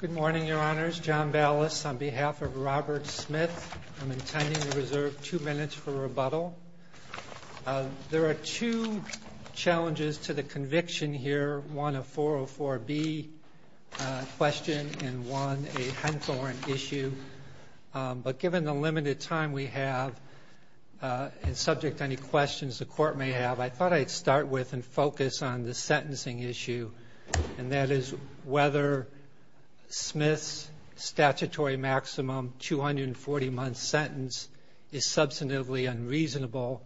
Good morning, Your Honors. John Ballas on behalf of Robert Smith. I'm intending to reserve two minutes for rebuttal. There are two challenges to the conviction here, one a 404B question and one a Hunthorne issue. But given the limited time we have and subject to any questions the court may have, I thought I'd start with and focus on the sentencing issue, and that is whether Smith's statutory maximum 240-month sentence is substantively unreasonable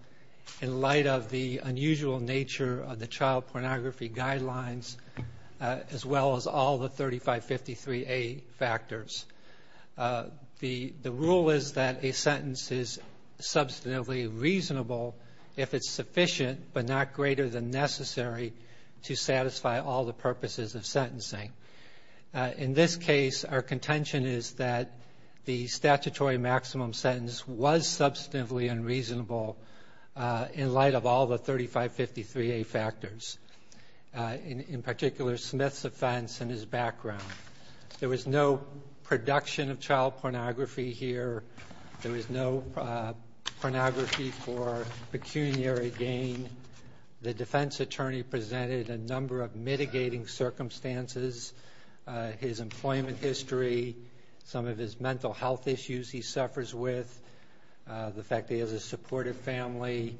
in light of the unusual nature of the child pornography guidelines as well as all the 3553A factors. The rule is that a sentence is substantively reasonable if it's sufficient, but not greater than necessary to satisfy all the purposes of sentencing. In this case, our contention is that the statutory maximum sentence was substantively unreasonable in light of all the 3553A factors, in particular, Smith's offense and his background. There was no production of child pornography here. There was no pornography for pecuniary gain. The defense attorney presented a number of mitigating circumstances, his employment history, some of his mental health issues he suffers with, the fact that he has a supportive family,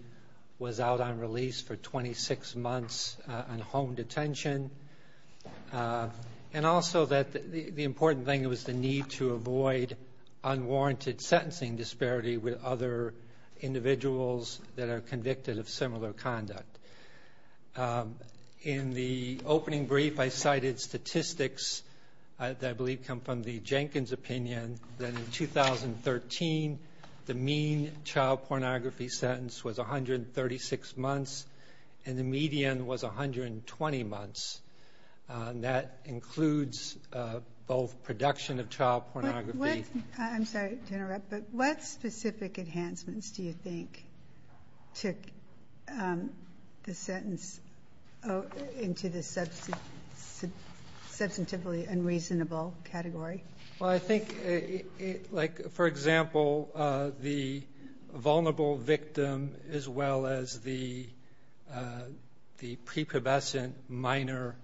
was out on release for 26 months on home detention, and also that the important thing was the need to avoid unwarranted sentencing disparity with other individuals that are convicted of similar conduct. In the opening brief, I cited statistics that I believe come from the Jenkins opinion that in 2013, the mean child pornography sentence was 136 months and the median was 120 months. That includes both production of child pornography. I'm sorry to interrupt, but what specific enhancements do you think took the sentence into the substantively unreasonable category? Well, I think, like, for example, the vulnerable victim as well as the prepubescent minor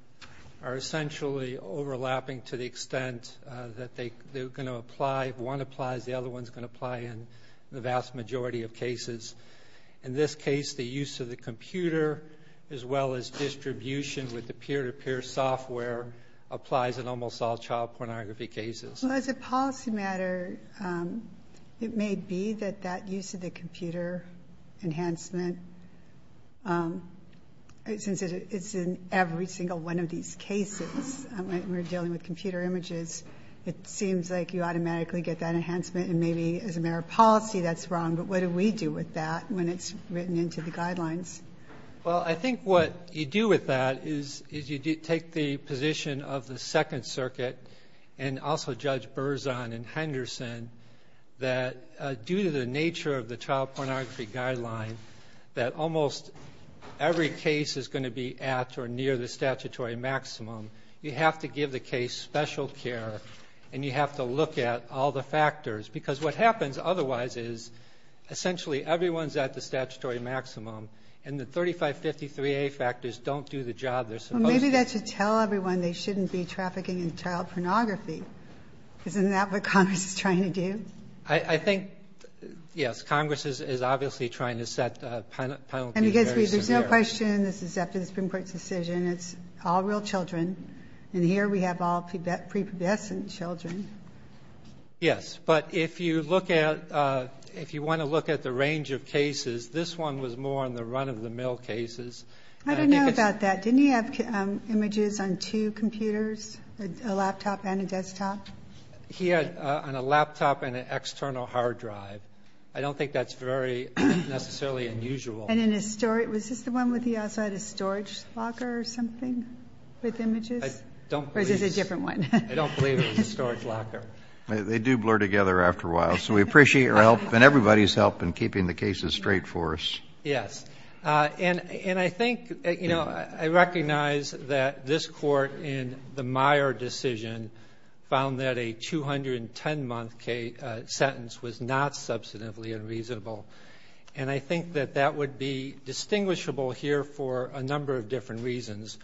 are essentially overlapping to the extent that they're going to apply, one applies, the other one's going to apply in the vast majority of cases. In this case, the use of the computer as well as distribution with the peer-to-peer software applies in almost all child pornography cases. Well, as a policy matter, it may be that that use of the computer enhancement, since it's in every single one of these cases when we're dealing with computer images, it seems like you automatically get that enhancement, and maybe as a matter of policy that's wrong, but what do we do with that when it's written into the guidelines? Well, I think what you do with that is you take the position of the Second Circuit and also Judge Berzon and Henderson that due to the nature of the child pornography guideline that almost every case is going to be at or near the statutory maximum, you have to give the case special care and you have to look at all the factors, because what happens otherwise is essentially everyone's at the statutory maximum and the 3553A factors don't do the job they're supposed to. Well, maybe that should tell everyone they shouldn't be trafficking in child pornography. Isn't that what Congress is trying to do? I think, yes, Congress is obviously trying to set penalties very severe. And because there's no question, this is after the Supreme Court's decision, it's all real children, and here we have all prepubescent children. Yes. But if you look at the range of cases, this one was more on the run-of-the-mill cases. I don't know about that. Didn't he have images on two computers, a laptop and a desktop? He had on a laptop and an external hard drive. I don't think that's very necessarily unusual. And in a storage room. Was this the one with the outside of the storage locker or something with images? Or is this a different one? I don't believe it was a storage locker. They do blur together after a while. So we appreciate your help and everybody's help in keeping the cases straight for us. Yes. And I think, you know, I recognize that this Court in the Meyer decision found that a 210-month sentence was not substantively unreasonable. And I think that that would be distinguishable here for a number of different reasons.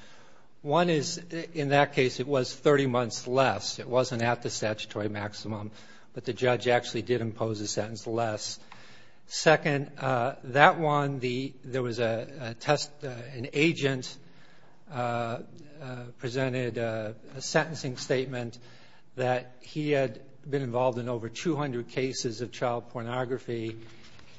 One is, in that case, it was 30 months less. It wasn't at the statutory maximum, but the judge actually did impose a sentence less. Second, that one, there was an agent presented a sentencing statement that he had been involved in over 200 cases of child pornography,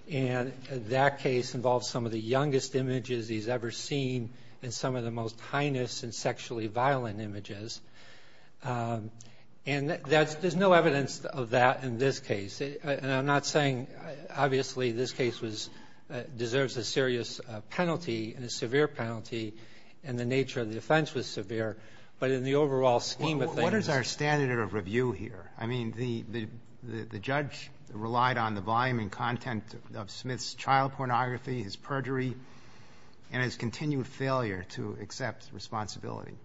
and that case involved some of the youngest images he's ever seen and some of the most heinous and sexually violent images. And there's no evidence of that in this case. And I'm not saying, obviously, this case deserves a serious penalty and a severe penalty, and the nature of the offense was severe. But in the overall scheme of things ---- What is our standard of review here? I mean, the judge relied on the volume and content of Smith's child pornography, his perjury, and his continued failure to accept responsibility.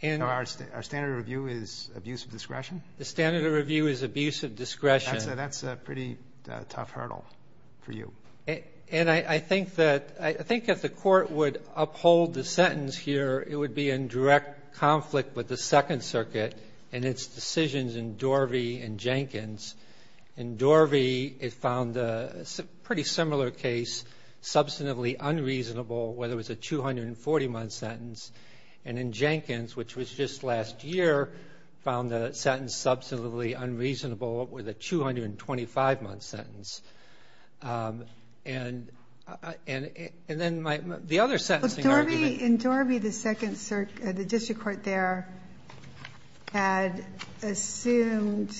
And our standard of review is abuse of discretion? The standard of review is abuse of discretion. That's a pretty tough hurdle for you. And I think that the Court would uphold the sentence here, it would be in direct conflict with the Second Circuit and its decisions in Dorvey and Jenkins. In Dorvey, it found a pretty similar case, substantively unreasonable, where there was a 240-month sentence. And in Jenkins, which was just last year, found the sentence substantively unreasonable with a 225-month sentence. And then my ---- the other sentencing argument ---- The district court there had assumed,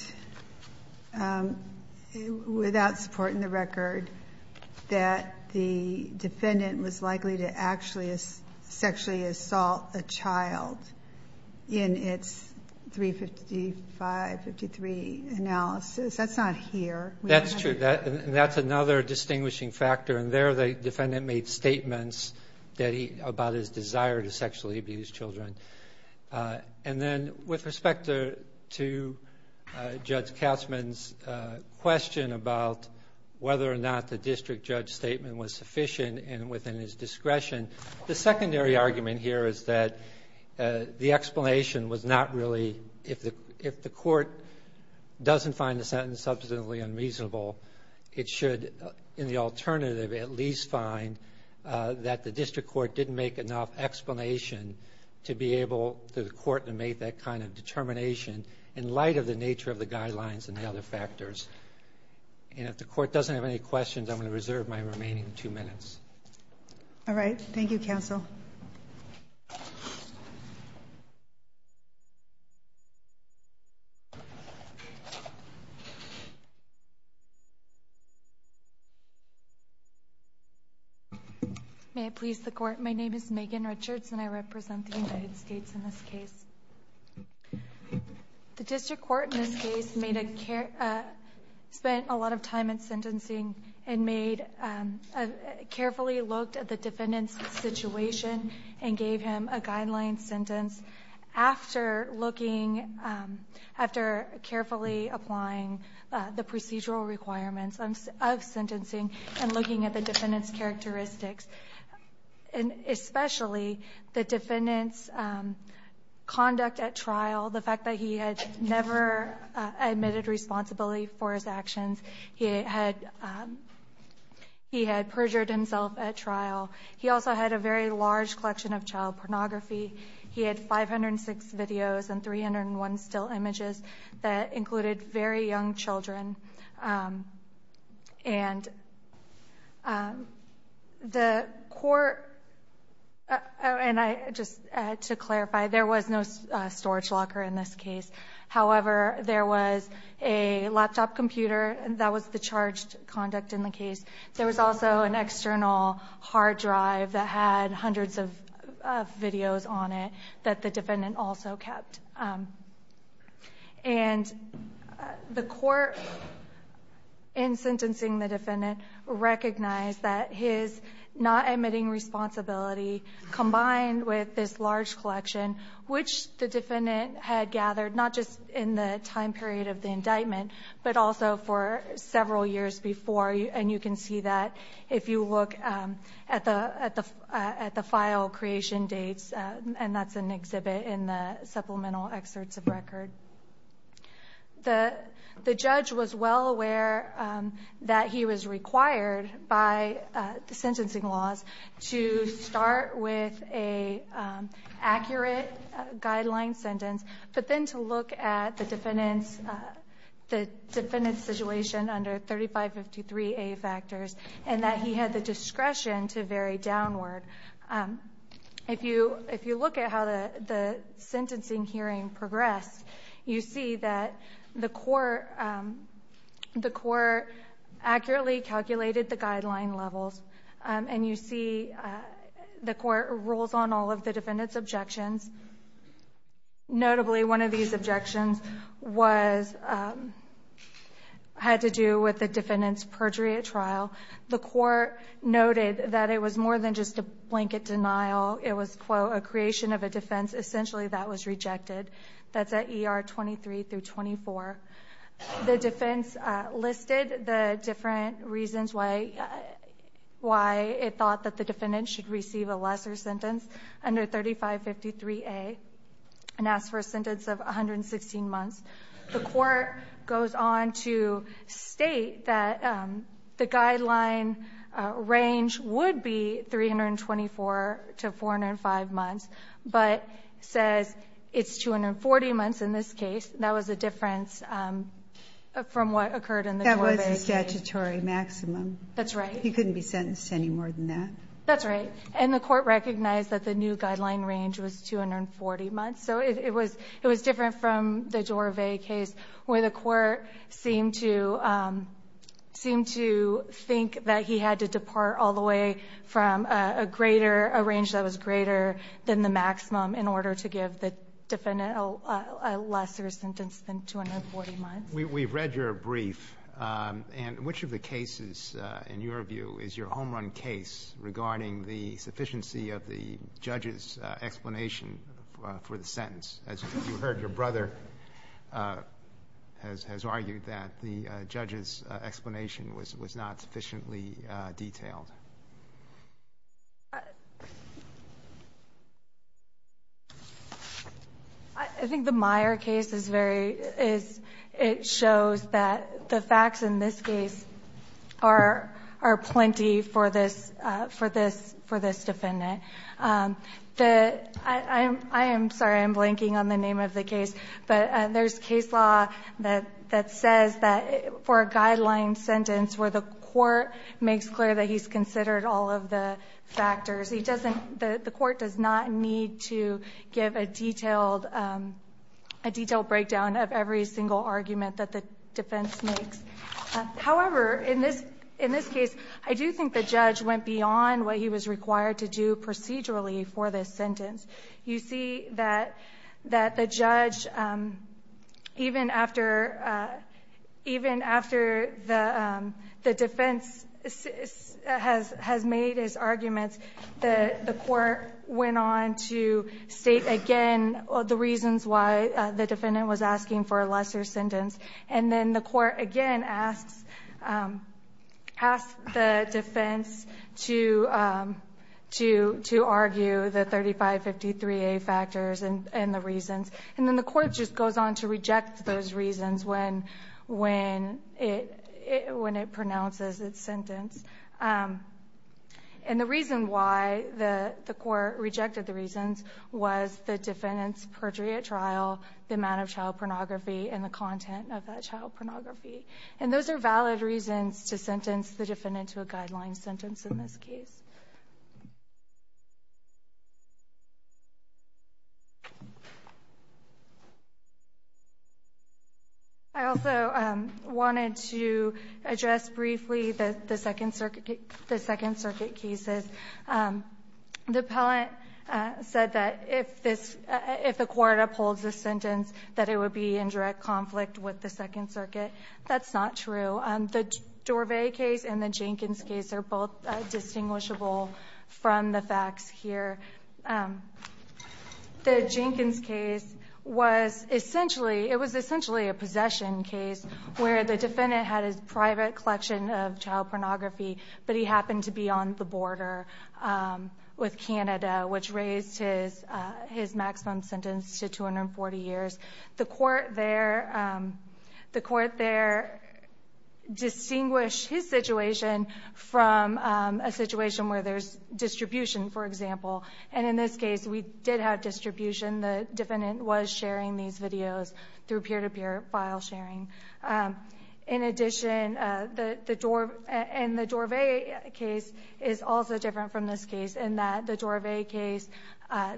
without support in the record, that the defendant was likely to actually sexually assault a child in its 355-53 analysis. That's not here. That's true. And that's another distinguishing factor. And there the defendant made statements that he ---- about his desire to sexually abuse children. And then with respect to Judge Katzmann's question about whether or not the district judge's statement was sufficient and within his discretion, the secondary argument here is that the explanation was not really, if the court doesn't find the sentence substantively unreasonable, it should, in the alternative, at least find that the district court didn't make enough explanation to be able to the court to make that kind of determination in light of the nature of the guidelines and the other factors. And if the court doesn't have any questions, I'm going to reserve my remaining two minutes. All right. Thank you, counsel. May it please the Court, my name is Megan Richards and I represent the United States in this case. The district court in this case made a care ---- spent a lot of time in sentencing and made a carefully looked at the defendant's situation and gave him a guideline sentence after looking, after carefully applying the procedural requirements of sentencing and looking at the defendant's characteristics, and especially the defendant's conduct at trial, the fact that he had never admitted responsibility for his actions, he had, he had perjured himself at trial. He also had a very large collection of child pornography. He had 506 videos and 301 still images that included very young children. And the court, and I, just to clarify, there was no storage locker in this case. However, there was a laptop computer. That was the charged conduct in the case. There was also an external hard drive that had hundreds of videos on it that the defendant also kept. And the court in sentencing the defendant recognized that his not admitting responsibility combined with this large collection, which the defendant had gathered not just in the time period of the indictment, but also for several years before. And you can see that if you look at the file creation dates, and that's an exhibit in the supplemental excerpts of record. The judge was well aware that he was required by the sentencing laws to start with an accurate guideline sentence, but then to look at the defendant's, the defendant's situation under 3553A factors, and that he had the discretion to vary downward. If you look at how the sentencing hearing progressed, you see that the court, the court rules on all of the defendant's objections. Notably, one of these objections was, had to do with the defendant's perjury at trial. The court noted that it was more than just a blanket denial. It was, quote, a creation of a defense. Essentially, that was rejected. That's at ER 23 through 24. The defense listed the different reasons why it thought that the defendant should receive a lesser sentence. Under 3553A, it asks for a sentence of 116 months. The court goes on to state that the guideline range would be 324 to 405 months, but says it's 240 months in this case. That was a difference from what occurred in the Corbett case. That was a statutory maximum. That's right. He couldn't be sentenced any more than that. That's right. And the court recognized that the new guideline range was 240 months. So it was different from the Dorvay case where the court seemed to think that he had to depart all the way from a greater, a range that was greater than the maximum in order to give the defendant a lesser sentence than 240 months. We've read your brief. And which of the cases, in your view, is your home-run case regarding the sufficiency of the judge's explanation for the sentence? As you heard, your brother has argued that the judge's explanation was not sufficiently detailed. I think the Meyer case is very, is it shows that the facts in this case are plenty for this defendant. I am sorry. I'm blanking on the name of the case. But there's case law that says that for a guideline sentence where the court makes clear that he's considered all of the factors, he doesn't, the court does not need to give a detailed breakdown of every single argument that the defense makes. However, in this case, I do think the judge went beyond what he was required to do procedurally for this sentence. You see that the judge, even after the defense has made his arguments, the court went on to state again the reasons why the defendant was asking for a lesser sentence, and then the court again asks the defense to argue the 3553A factors and the reasons. And then the court just goes on to reject those reasons when it pronounces its sentence. And the reason why the court rejected the reasons was the defendant's perjury at trial, the amount of child pornography, and the content of that child pornography. And those are valid reasons to sentence the defendant to a guideline sentence in this case. I also wanted to address briefly the Second Circuit cases. The appellant said that if this – if the court upholds this sentence, that it would be in direct conflict with the Second Circuit. That's not true. The Dorvay case and the Jenkins case are both distinguishable from the facts here. The Jenkins case was essentially – it was essentially a possession case where the defendant had his private collection of child pornography, but he happened to be on the border with Canada, which raised his maximum sentence to 240 years. The court there – the court there distinguished his situation from a situation where there's distribution, for example. And in this case, we did have distribution. The defendant was sharing these videos through peer-to-peer file sharing. In addition, the – and the Dorvay case is also different from this case in that the Dorvay case,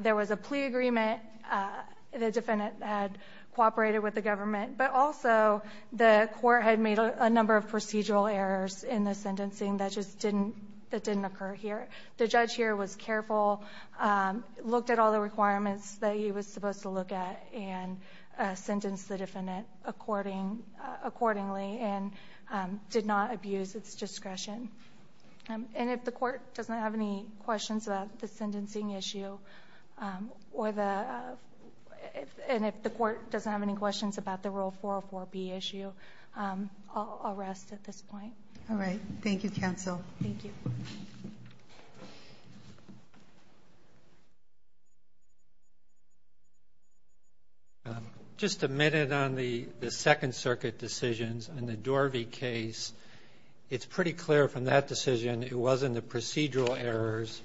there was a plea agreement. The defendant had cooperated with the government. But also, the court had made a number of procedural errors in the sentencing that just didn't – that didn't occur here. The judge here was careful, looked at all the requirements that he was supposed to look at and sentenced the defendant accordingly and did not abuse its discretion. And if the court doesn't have any questions about the sentencing issue or the – and if the court doesn't have any questions about the Rule 404B issue, I'll rest at this point. All right. Thank you, counsel. Thank you. Just a minute on the Second Circuit decisions. In the Dorvay case, it's pretty clear from that decision it wasn't the procedural errors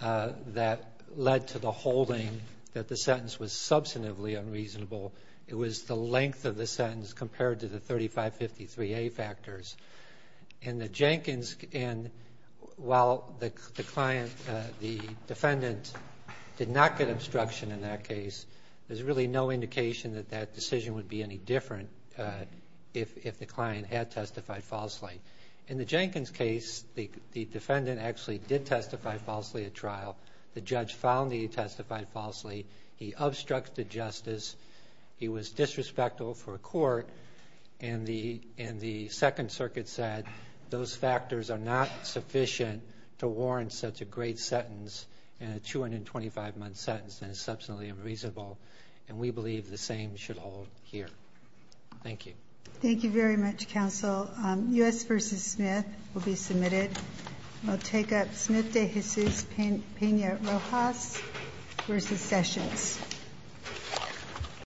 that led to the holding that the sentence was substantively unreasonable. It was the length of the sentence compared to the 3553A factors. In the Jenkins – and while the client, the defendant, did not get obstruction in that case, there's really no indication that that decision would be any different if the client had testified falsely. In the Jenkins case, the defendant actually did testify falsely at trial. The judge found that he testified falsely. He was disrespectful for a court. And the Second Circuit said those factors are not sufficient to warrant such a great sentence and a 225-month sentence that is substantively unreasonable. And we believe the same should hold here. Thank you. Thank you very much, counsel. U.S. v. Smith will be submitted. I'll take up Smith v. Rojas v. Sessions.